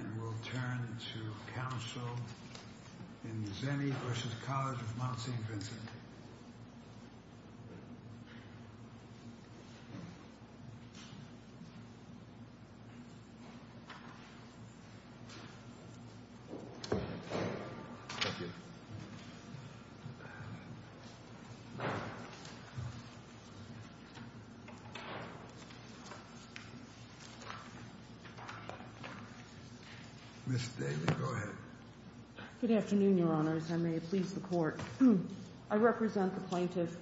And we'll turn to counsel in Zennie v. College Of Mount Saint Vincent. Ms. David, go ahead. Good afternoon, your honors. I may please the court. I represent the plaintiff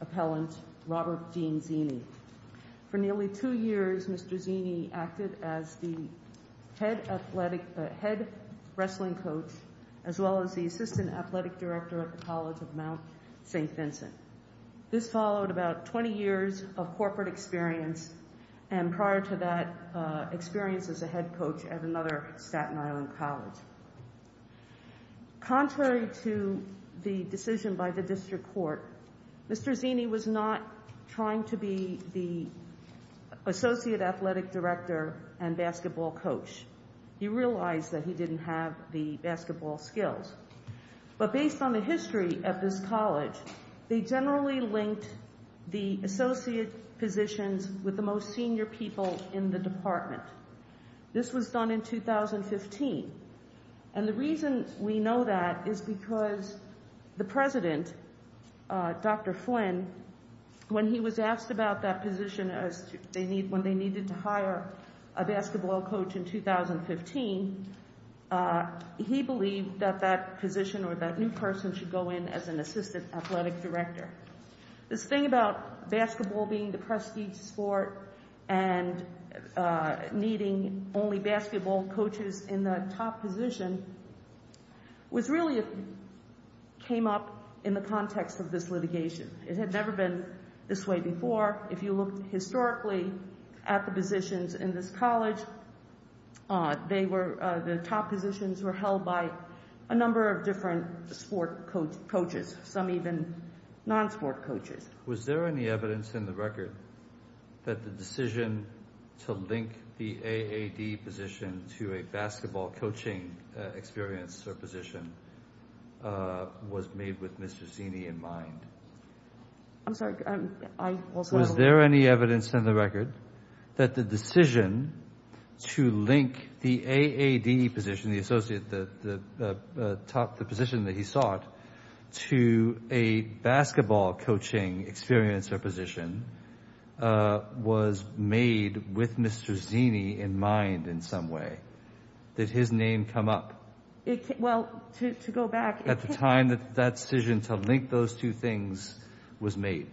appellant, Robert Dean Zennie. For nearly two years, Mr. Zennie acted as the head wrestling coach, as well as the assistant athletic director at the College Of Mount Saint Vincent. This followed about 20 years of corporate experience, and prior to that experience as a head coach at another Staten Island college. Contrary to the decision by the district court, Mr. Zennie was not trying to be the associate athletic director and basketball coach. He realized that he didn't have the basketball skills. But based on the history of this college, they generally linked the associate positions with the most senior people in the department. This was done in 2015. And the reason we know that is because the president, Dr. Flynn, when he was asked about that position when they needed to hire a basketball coach in 2015, he believed that that position or that new person should go in as an assistant athletic director. This thing about basketball being the prestige sport and needing only basketball coaches in the top position was really came up in the context of this litigation. It had never been this way before. If you look historically at the positions in this college, the top positions were held by a number of different sport coaches, some even non-sport coaches. Was there any evidence in the record that the decision to link the AAD position to a basketball coaching experience or position was made with Mr. Zennie in mind? I'm sorry. I also have a... Was there any evidence in the record that the decision to link the AAD position, the associate, the position that he sought, to a basketball coaching experience or position was made with Mr. Zennie in mind in some way? Did his name come up? Well, to go back... At the time that that decision to link those two things was made?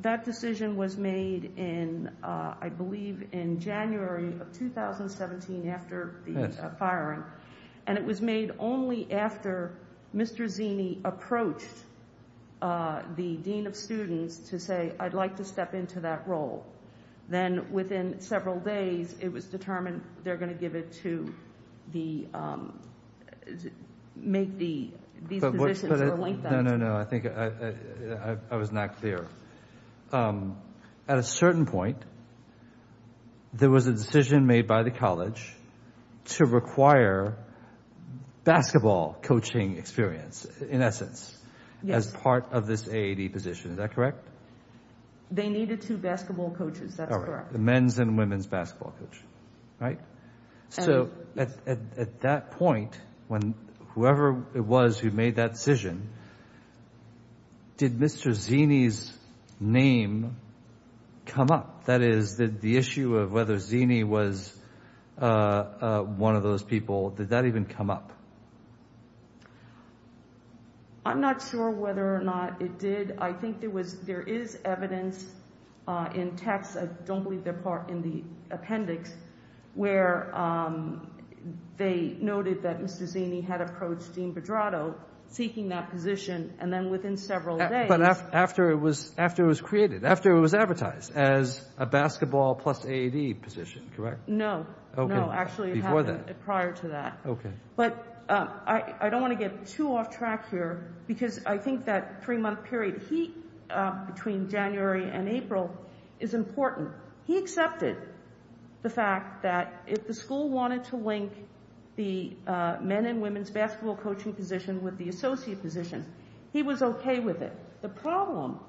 That decision was made in, I believe, in January of 2017 after the firing. And it was made only after Mr. Zennie approached the dean of students to say, I'd like to step into that role. Then within several days, it was determined they're going to give it to the... Make these positions or link them. No, no, no. I think I was not clear. At a certain point, there was a decision made by the college to require basketball coaching experience, in essence, as part of this AAD position. Is that correct? They needed two basketball coaches. That's correct. All right. The men's and women's basketball coach, right? So at that point, whoever it was who made that decision, did Mr. Zennie's name come up? That is, the issue of whether Zennie was one of those people, did that even come up? I'm not sure whether or not it did. I think there is evidence in text, I don't believe they're in the appendix, where they noted that Mr. Zennie had approached Dean Pedrato seeking that position. And then within several days... But after it was created, after it was advertised as a basketball plus AAD position, correct? No. No, actually it happened prior to that. Okay. But I don't want to get too off track here, because I think that three-month period between January and April is important. He accepted the fact that if the school wanted to link the men's and women's basketball coaching position with the associate position, he was okay with it. The problem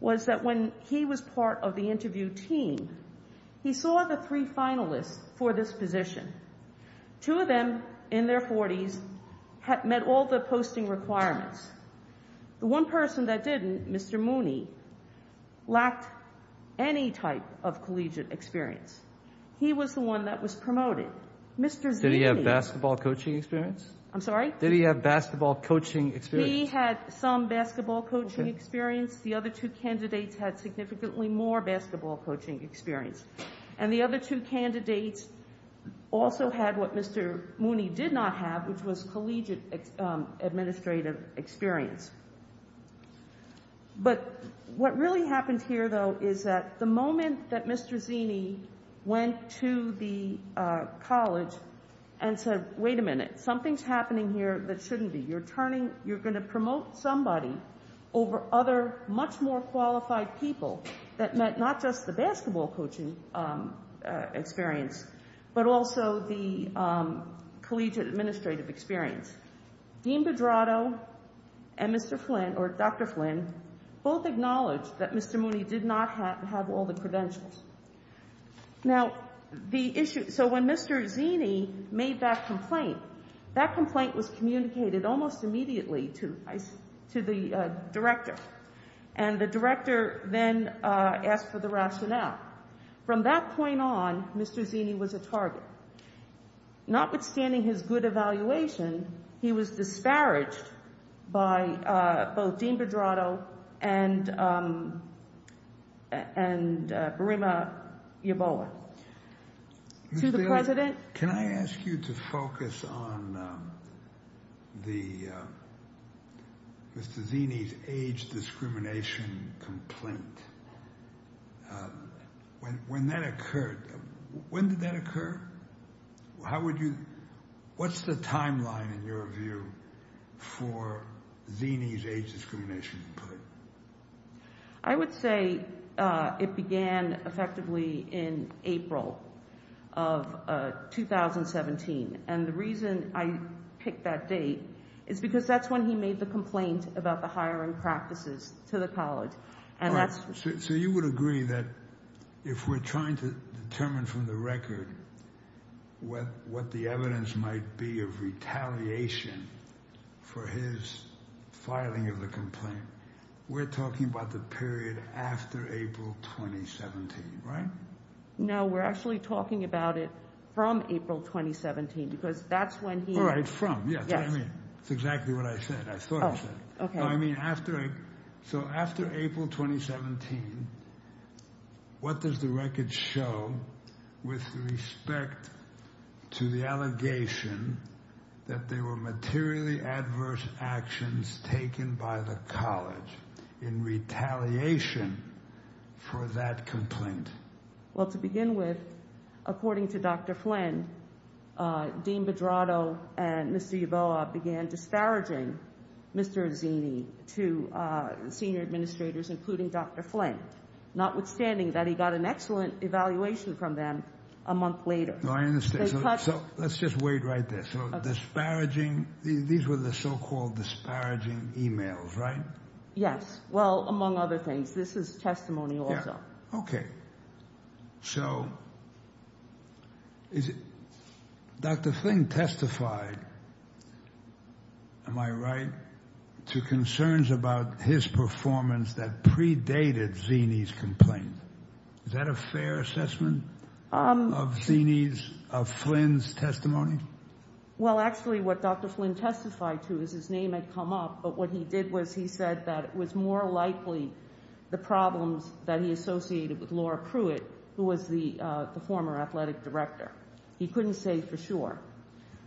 was that when he was part of the interview team, he saw the three finalists for this position. Two of them, in their 40s, met all the posting requirements. The one person that didn't, Mr. Mooney, lacked any type of collegiate experience. He was the one that was promoted. Mr. Zennie... Did he have basketball coaching experience? I'm sorry? Did he have basketball coaching experience? He had some basketball coaching experience. The other two candidates had significantly more basketball coaching experience. And the other two candidates also had what Mr. Mooney did not have, which was collegiate administrative experience. But what really happened here, though, is that the moment that Mr. Zennie went to the college and said, wait a minute, something's happening here that shouldn't be. You're turning... You're going to promote somebody over other much more qualified people that met not just the basketball coaching experience, but also the collegiate administrative experience. Dean Bedrado and Mr. Flynn, or Dr. Flynn, both acknowledged that Mr. Mooney did not have all the credentials. Now, the issue... So when Mr. Zennie made that complaint, that complaint was communicated almost immediately to the director. And the director then asked for the rationale. From that point on, Mr. Zennie was a target. Notwithstanding his good evaluation, he was disparaged by both Dean Bedrado and Burima Yeboah. To the president... How would you... What's the timeline, in your view, for Zennie's age discrimination? I would say it began effectively in April of 2017. And the reason I picked that date is because that's when he made the complaint about the hiring practices to the college. So you would agree that if we're trying to determine from the record what the evidence might be of retaliation for his filing of the complaint, we're talking about the period after April 2017, right? No, we're actually talking about it from April 2017, because that's when he... All right, from. That's what I mean. That's exactly what I said. I thought I said it. I mean, after... So after April 2017, what does the record show with respect to the allegation that there were materially adverse actions taken by the college in retaliation for that complaint? Well, to begin with, according to Dr. Flynn, Dean Bedrado and Mr. Yeboah began disparaging Mr. Zennie to senior administrators, including Dr. Flynn, notwithstanding that he got an excellent evaluation from them a month later. So let's just wait right there. So disparaging... These were the so-called disparaging emails, right? Yes. Well, among other things. This is testimony also. Okay. So Dr. Flynn testified, am I right, to concerns about his performance that predated Zennie's complaint. Is that a fair assessment of Zennie's, of Flynn's testimony? Well, actually what Dr. Flynn testified to is his name had come up, but what he did was he said that it was more likely the problems that he associated with Laura Pruitt, who was the former athletic director. He couldn't say for sure.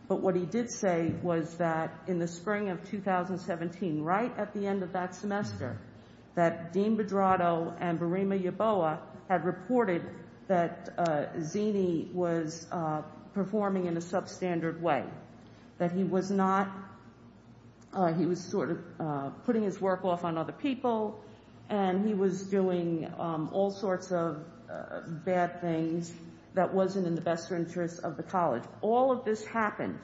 But what he did say was that in the spring of 2017, right at the end of that semester, that Dean Bedrado and Burima Yeboah had reported that Zennie was performing in a substandard way. That he was not... He was sort of putting his work off on other people, and he was doing all sorts of bad things that wasn't in the best interest of the college. All of this happened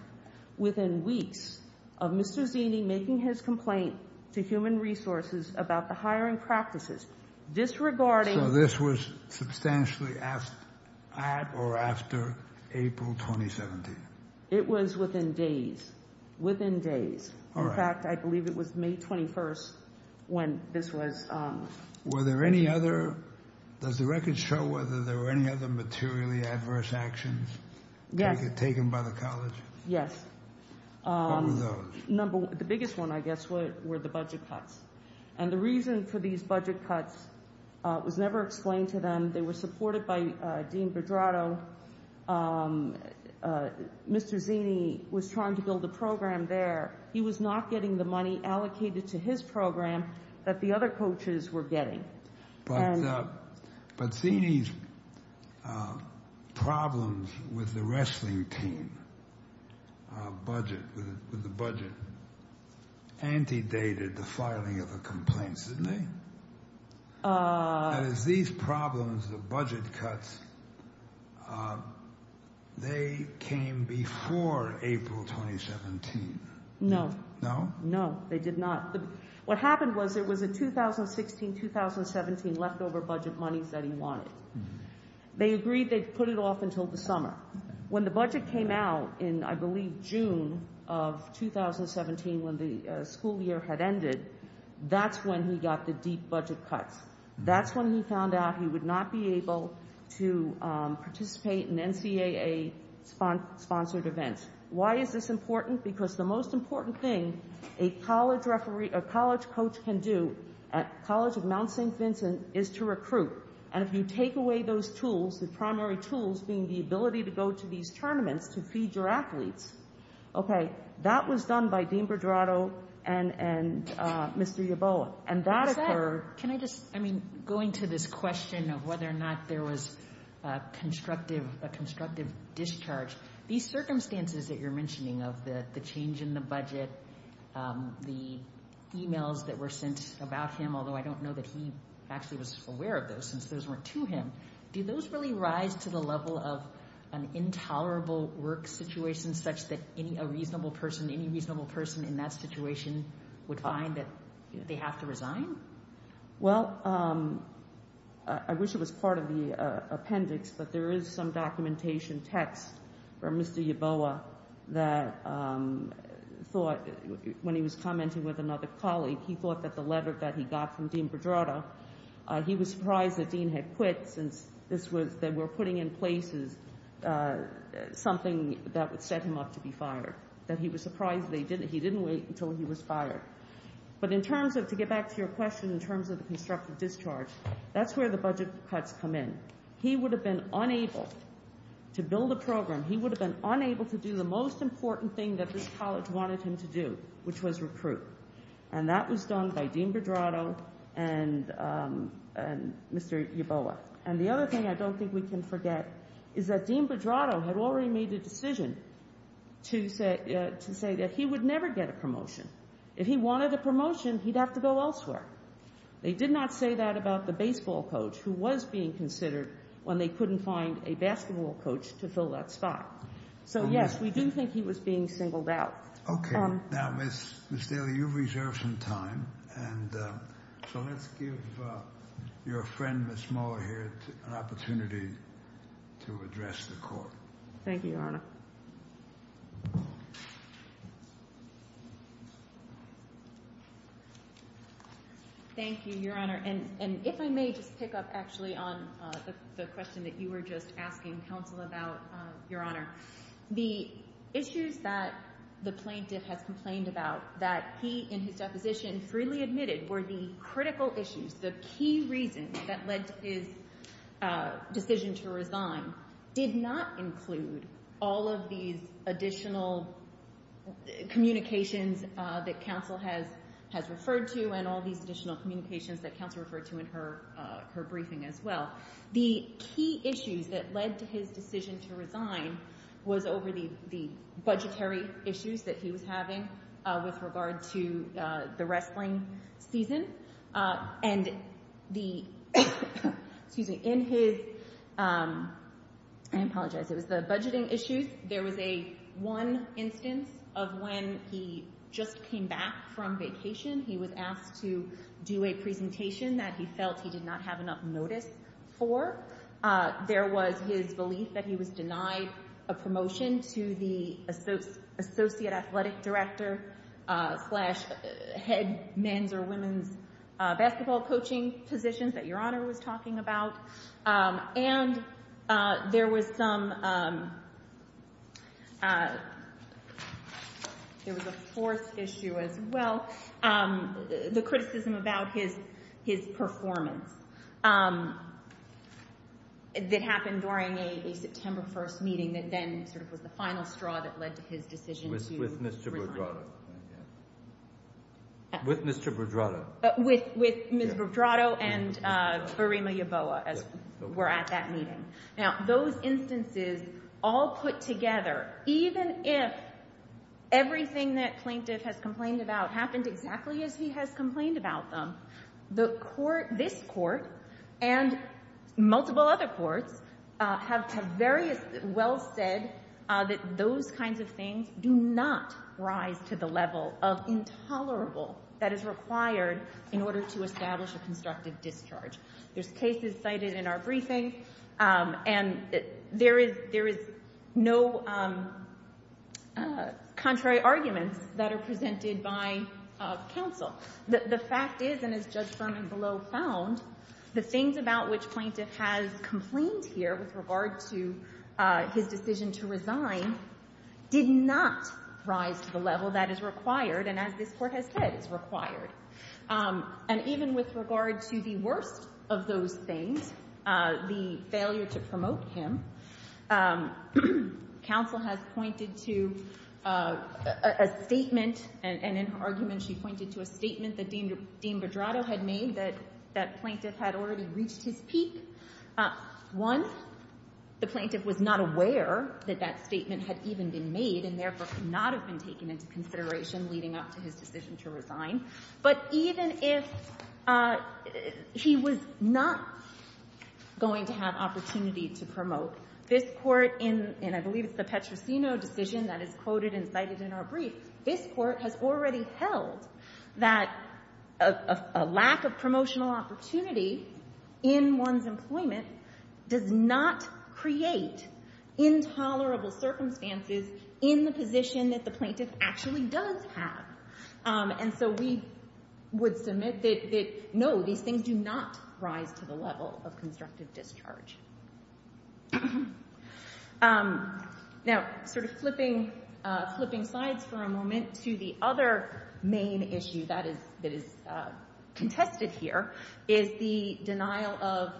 within weeks of Mr. Zennie making his complaint to Human Resources about the hiring practices, disregarding... So this was substantially at or after April 2017? It was within days. Within days. All right. In fact, I believe it was May 21st when this was... Were there any other... Does the record show whether there were any other materially adverse actions? Yes. Taken by the college? Yes. What were those? The biggest one, I guess, were the budget cuts. And the reason for these budget cuts was never explained to them. They were supported by Dean Bedrado. Mr. Zennie was trying to build a program there. He was not getting the money allocated to his program that the other coaches were getting. But Zennie's problems with the wrestling team budget, with the budget, antedated the filing of the complaints, didn't they? As these problems, the budget cuts, they came before April 2017. No. No? No, they did not. What happened was there was a 2016-2017 leftover budget money that he wanted. They agreed they'd put it off until the summer. When the budget came out in, I believe, June of 2017, when the school year had ended, that's when he got the deep budget cuts. That's when he found out he would not be able to participate in NCAA-sponsored events. Why is this important? Because the most important thing a college coach can do at College of Mount St. Vincent is to recruit. And if you take away those tools, the primary tools being the ability to go to these tournaments to feed your athletes, okay, that was done by Dean Bedrado and Mr. Yeboah. Can I just, I mean, going to this question of whether or not there was a constructive discharge, these circumstances that you're mentioning of the change in the budget, the emails that were sent about him, although I don't know that he actually was aware of those since those weren't to him, do those really rise to the level of an intolerable work situation such that any reasonable person, in that situation, would find that they have to resign? Well, I wish it was part of the appendix, but there is some documentation text from Mr. Yeboah that thought, when he was commenting with another colleague, he thought that the letter that he got from Dean Bedrado, he was surprised that Dean had quit since this was, they were putting in places something that would set him up to be fired. That he was surprised that he didn't wait until he was fired. But in terms of, to get back to your question in terms of the constructive discharge, that's where the budget cuts come in. He would have been unable to build a program, he would have been unable to do the most important thing that this college wanted him to do, which was recruit, and that was done by Dean Bedrado and Mr. Yeboah. And the other thing I don't think we can forget is that Dean Bedrado had already made a decision to say that he would never get a promotion. If he wanted a promotion, he'd have to go elsewhere. They did not say that about the baseball coach who was being considered when they couldn't find a basketball coach to fill that spot. So yes, we do think he was being singled out. Okay, now Ms. Daly, you've reserved some time, and so let's give your friend Ms. Moore here an opportunity to address the court. Thank you, Your Honor. Thank you, Your Honor, and if I may just pick up actually on the question that you were just asking counsel about, Your Honor. The issues that the plaintiff has complained about that he, in his deposition, freely admitted were the critical issues, the key reasons that led to his decision to resign, did not include all of these additional communications that counsel has referred to and all these additional communications that counsel referred to in her briefing as well. The key issues that led to his decision to resign was over the budgetary issues that he was having with regard to the wrestling season. And the, excuse me, in his, I apologize, it was the budgeting issues, there was one instance of when he just came back from vacation. He was asked to do a presentation that he felt he did not have enough notice for. There was his belief that he was denied a promotion to the associate athletic director slash head men's or women's basketball coaching positions that Your Honor was talking about. And there was some, there was a fourth issue as well. The criticism about his performance that happened during a September 1st meeting that then sort of was the final straw that led to his decision to resign. With Mr. Bordrato. With Mr. Bordrato. With Mr. Bordrato and Burima Yeboah as were at that meeting. Now, those instances all put together, even if everything that plaintiff has complained about happened exactly as he has complained about them, this court and multiple other courts have very well said that those kinds of things do not rise to the level of intolerable that is required in order to establish a constructive discharge. There's cases cited in our briefing and there is no contrary arguments that are presented by counsel. The fact is, and as Judge Berman below found, the things about which plaintiff has complained here with regard to his decision to resign did not rise to the level that is required. And as this court has said, it's required. And even with regard to the worst of those things, the failure to promote him, counsel has pointed to a statement and in her argument, she pointed to a statement that Dean Bordrato had made that that plaintiff had already reached his peak. One, the plaintiff was not aware that that statement had even been made and therefore could not have been taken into consideration leading up to his decision to resign. But even if he was not going to have opportunity to promote, this court in, and I believe it's the Petrosino decision that is quoted and cited in our brief, this court has already held that a lack of promotional opportunity in one's employment does not create intolerable circumstances in the position that the plaintiff actually does have. And so we would submit that no, these things do not rise to the level of constructive discharge. Now, sort of flipping sides for a moment to the other main issue that is contested here is the denial of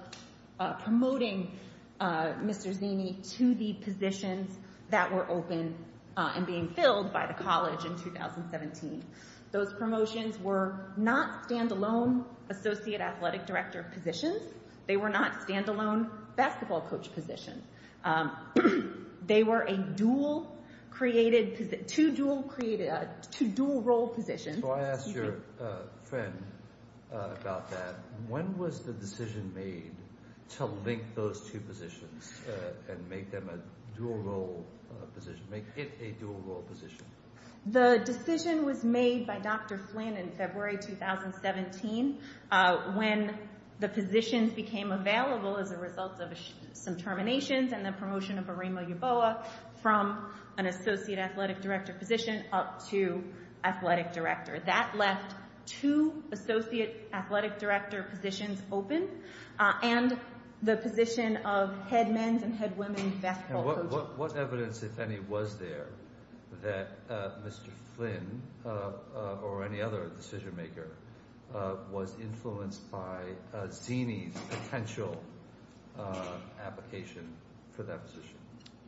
promoting Mr. Zinni to the positions that were open and being filled by the college in 2017. Those promotions were not stand-alone associate athletic director positions. They were not stand-alone basketball coach positions. They were a dual created, two dual created, two dual role positions. So I asked your friend about that. When was the decision made to link those two positions and make them a dual role position, make it a dual role position? The decision was made by Dr. Flynn in February 2017 when the positions became available as a result of some terminations and the promotion of a Remo Uboa from an associate athletic director position up to athletic director. That left two associate athletic director positions open and the position of head men's and head women's basketball coach. What evidence, if any, was there that Mr. Flynn or any other decision maker was influenced by Zinni's potential application for that position,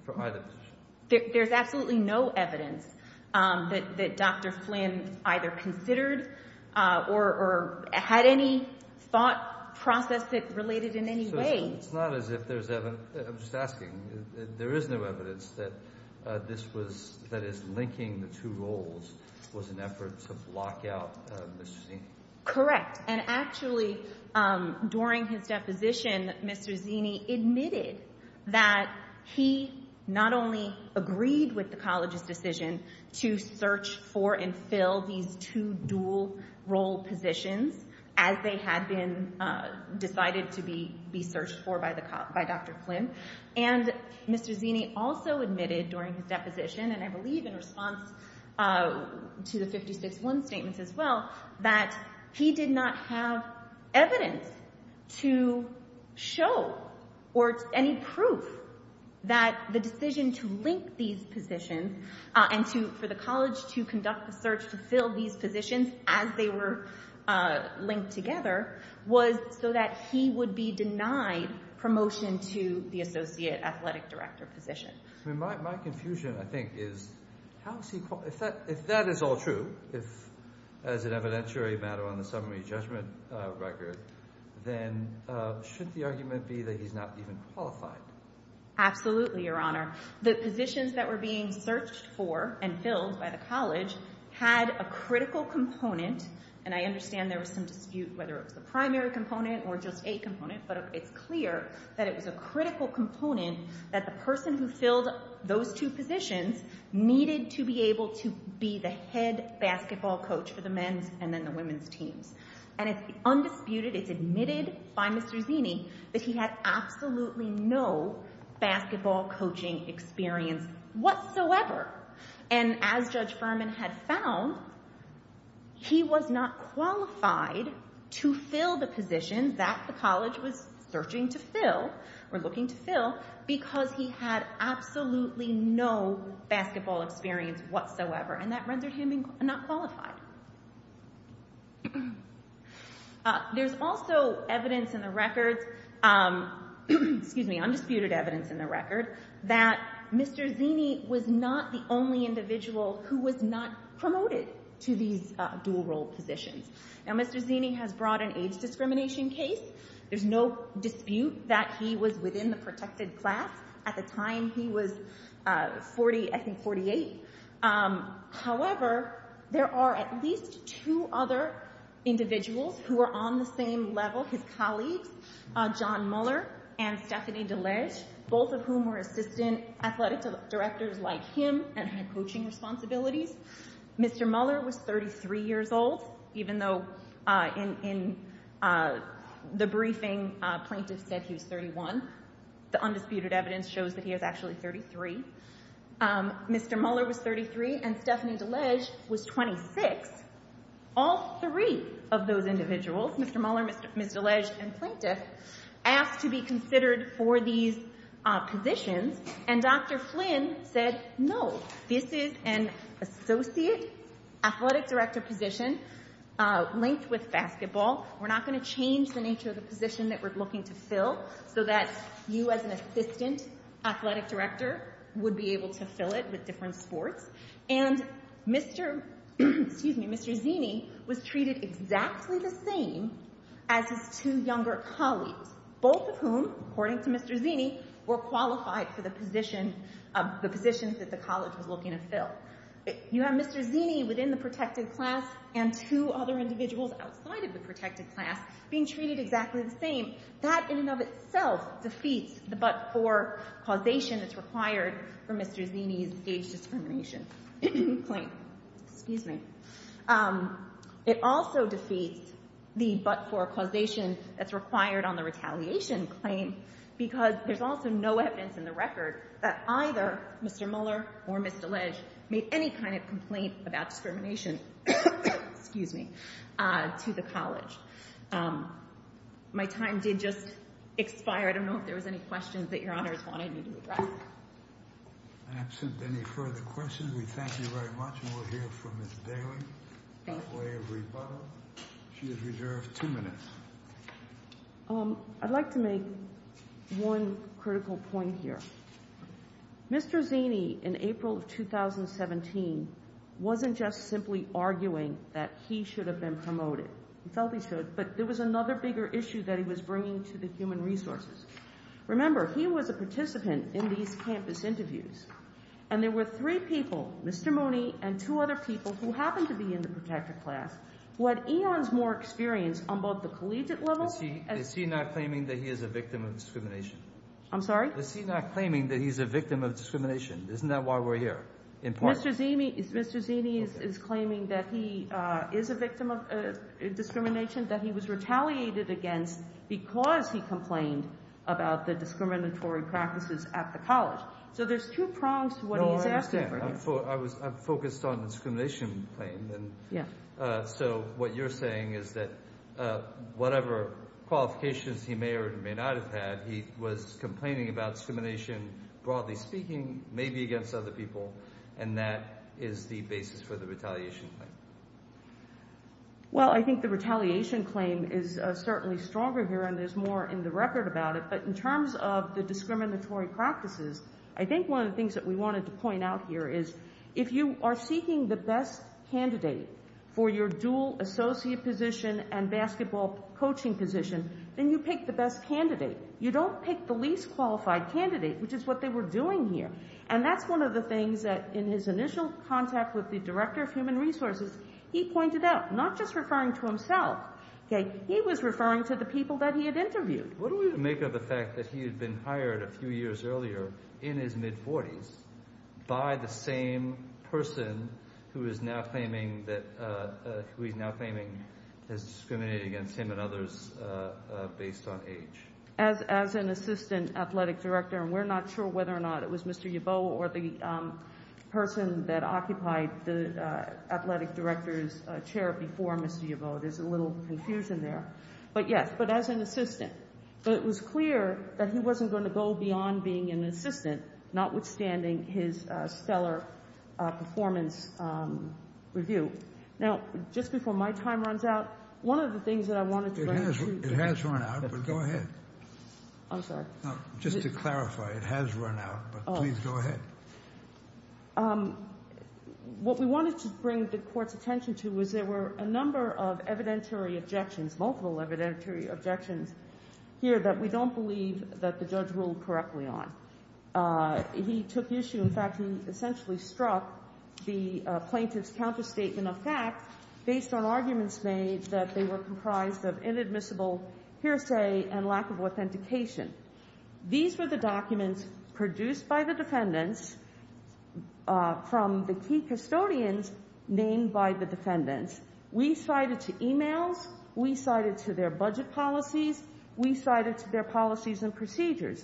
for either position? There's absolutely no evidence that Dr. Flynn either considered or had any thought process that related in any way. So it's not as if there's, I'm just asking, there is no evidence that this was, that his linking the two roles was an effort to block out Mr. Zinni? And Mr. Zinni also admitted during his deposition, and I believe in response to the 56-1 statements as well, that he did not have evidence to show or any proof that the decision to link these positions and for the college to conduct the search to fill these positions as they were linked together was so that he would be denied promotion to the associate athletic director position. My confusion, I think, is if that is all true, as an evidentiary matter on the summary judgment record, then shouldn't the argument be that he's not even qualified? Absolutely, Your Honor. The positions that were being searched for and filled by the college had a critical component, and I understand there was some dispute whether it was the primary component or just a component, but it's clear that it was a critical component that the person who filled those two positions needed to be able to be the head basketball coach for the men's and then the women's teams. And it's undisputed, it's admitted by Mr. Zinni that he had absolutely no basketball coaching experience whatsoever. And as Judge Furman had found, he was not qualified to fill the positions that the college was searching to fill or looking to fill because he had absolutely no basketball experience whatsoever, and that rendered him not qualified. There's also undisputed evidence in the record that Mr. Zinni was not the only individual who was not promoted to these dual role positions. Now, Mr. Zinni has brought an age discrimination case. There's no dispute that he was within the protected class. At the time, he was, I think, 48. However, there are at least two other individuals who are on the same level, his colleagues, John Muller and Stephanie DeLege, both of whom were assistant athletic directors like him and had coaching responsibilities. Mr. Muller was 33 years old, even though in the briefing plaintiff said he was 31. The undisputed evidence shows that he was actually 33. Mr. Muller was 33 and Stephanie DeLege was 26. All three of those individuals, Mr. Muller, Ms. DeLege, and plaintiff asked to be considered for these positions, and Dr. Flynn said, no, this is an associate athletic director position linked with basketball. We're not going to change the nature of the position that we're looking to fill so that you as an assistant athletic director would be able to fill it with different sports. And Mr. Zinni was treated exactly the same as his two younger colleagues, both of whom, according to Mr. Zinni, were qualified for the positions that the college was looking to fill. You have Mr. Zinni within the protected class and two other individuals outside of the protected class being treated exactly the same. That in and of itself defeats the but-for causation that's required for Mr. Zinni's age discrimination claim. Excuse me. It also defeats the but-for causation that's required on the retaliation claim because there's also no evidence in the record that either Mr. Muller or Ms. DeLege made any kind of complaint about discrimination to the college. My time did just expire. I don't know if there was any questions that Your Honors wanted me to address. Absent any further questions, we thank you very much. And we'll hear from Ms. Daley. She is reserved two minutes. I'd like to make one critical point here. Mr. Zinni, in April of 2017, wasn't just simply arguing that he should have been promoted. He felt he should. But there was another bigger issue that he was bringing to the human resources. Remember, he was a participant in these campus interviews. And there were three people, Mr. Mooney and two other people, who happened to be in the protected class, who had eons more experience on both the collegiate level. Is he not claiming that he is a victim of discrimination? I'm sorry? Is he not claiming that he's a victim of discrimination? Isn't that why we're here? Mr. Zinni is claiming that he is a victim of discrimination, that he was retaliated against because he complained about the discriminatory practices at the college. So there's two prongs to what he's asking for. I'm focused on the discrimination claim. So what you're saying is that whatever qualifications he may or may not have had, he was complaining about discrimination, broadly speaking, maybe against other people, and that is the basis for the retaliation claim. Well, I think the retaliation claim is certainly stronger here, and there's more in the record about it. But in terms of the discriminatory practices, I think one of the things that we wanted to point out here is if you are seeking the best candidate for your dual associate position and basketball coaching position, then you pick the best candidate. You don't pick the least qualified candidate, which is what they were doing here. And that's one of the things that in his initial contact with the director of human resources, he pointed out, not just referring to himself, he was referring to the people that he had interviewed. What do we make of the fact that he had been hired a few years earlier in his mid-40s by the same person who he's now claiming has discriminated against him and others based on age? As an assistant athletic director, and we're not sure whether or not it was Mr. Yeboah or the person that occupied the athletic director's chair before Mr. Yeboah. There's a little confusion there. But yes, but as an assistant, it was clear that he wasn't going to go beyond being an assistant, notwithstanding his stellar performance review. Now, just before my time runs out, one of the things that I wanted to. It has run out, but go ahead. I'm sorry. Just to clarify, it has run out, but please go ahead. What we wanted to bring the court's attention to was there were a number of evidentiary objections, multiple evidentiary objections here that we don't believe that the judge ruled correctly on. He took issue, in fact, he essentially struck the plaintiff's counterstatement of fact based on arguments made that they were comprised of inadmissible hearsay and lack of authentication. These were the documents produced by the defendants from the key custodians named by the defendants. We cited to emails, we cited to their budget policies, we cited to their policies and procedures.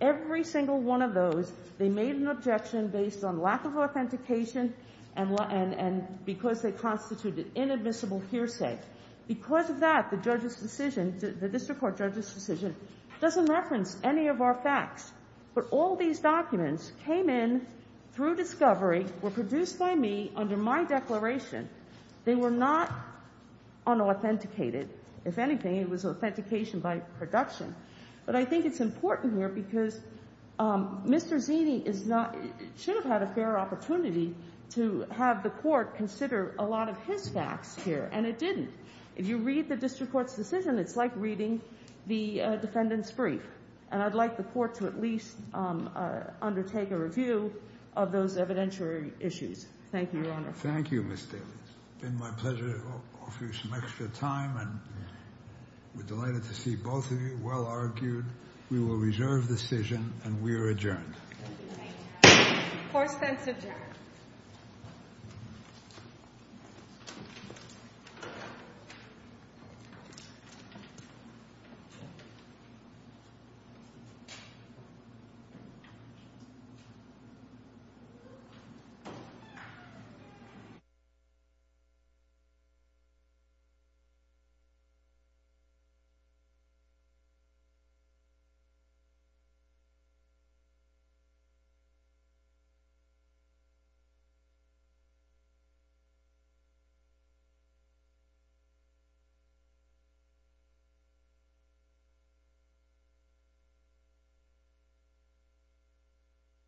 Every single one of those, they made an objection based on lack of authentication and because they constituted inadmissible hearsay. Because of that, the judge's decision, the district court judge's decision doesn't reference any of our facts. But all these documents came in through discovery, were produced by me under my declaration. They were not unauthenticated. If anything, it was authentication by production. But I think it's important here because Mr. Zini should have had a fair opportunity to have the court consider a lot of his facts here and it didn't. If you read the district court's decision, it's like reading the defendant's brief. And I'd like the court to at least undertake a review of those evidentiary issues. Thank you, Your Honor. Thank you, Ms. Daly. It's been my pleasure to offer you some extra time and we're delighted to see both of you. Well argued. We will reserve the decision and we are adjourned. Court is adjourned. Thank you.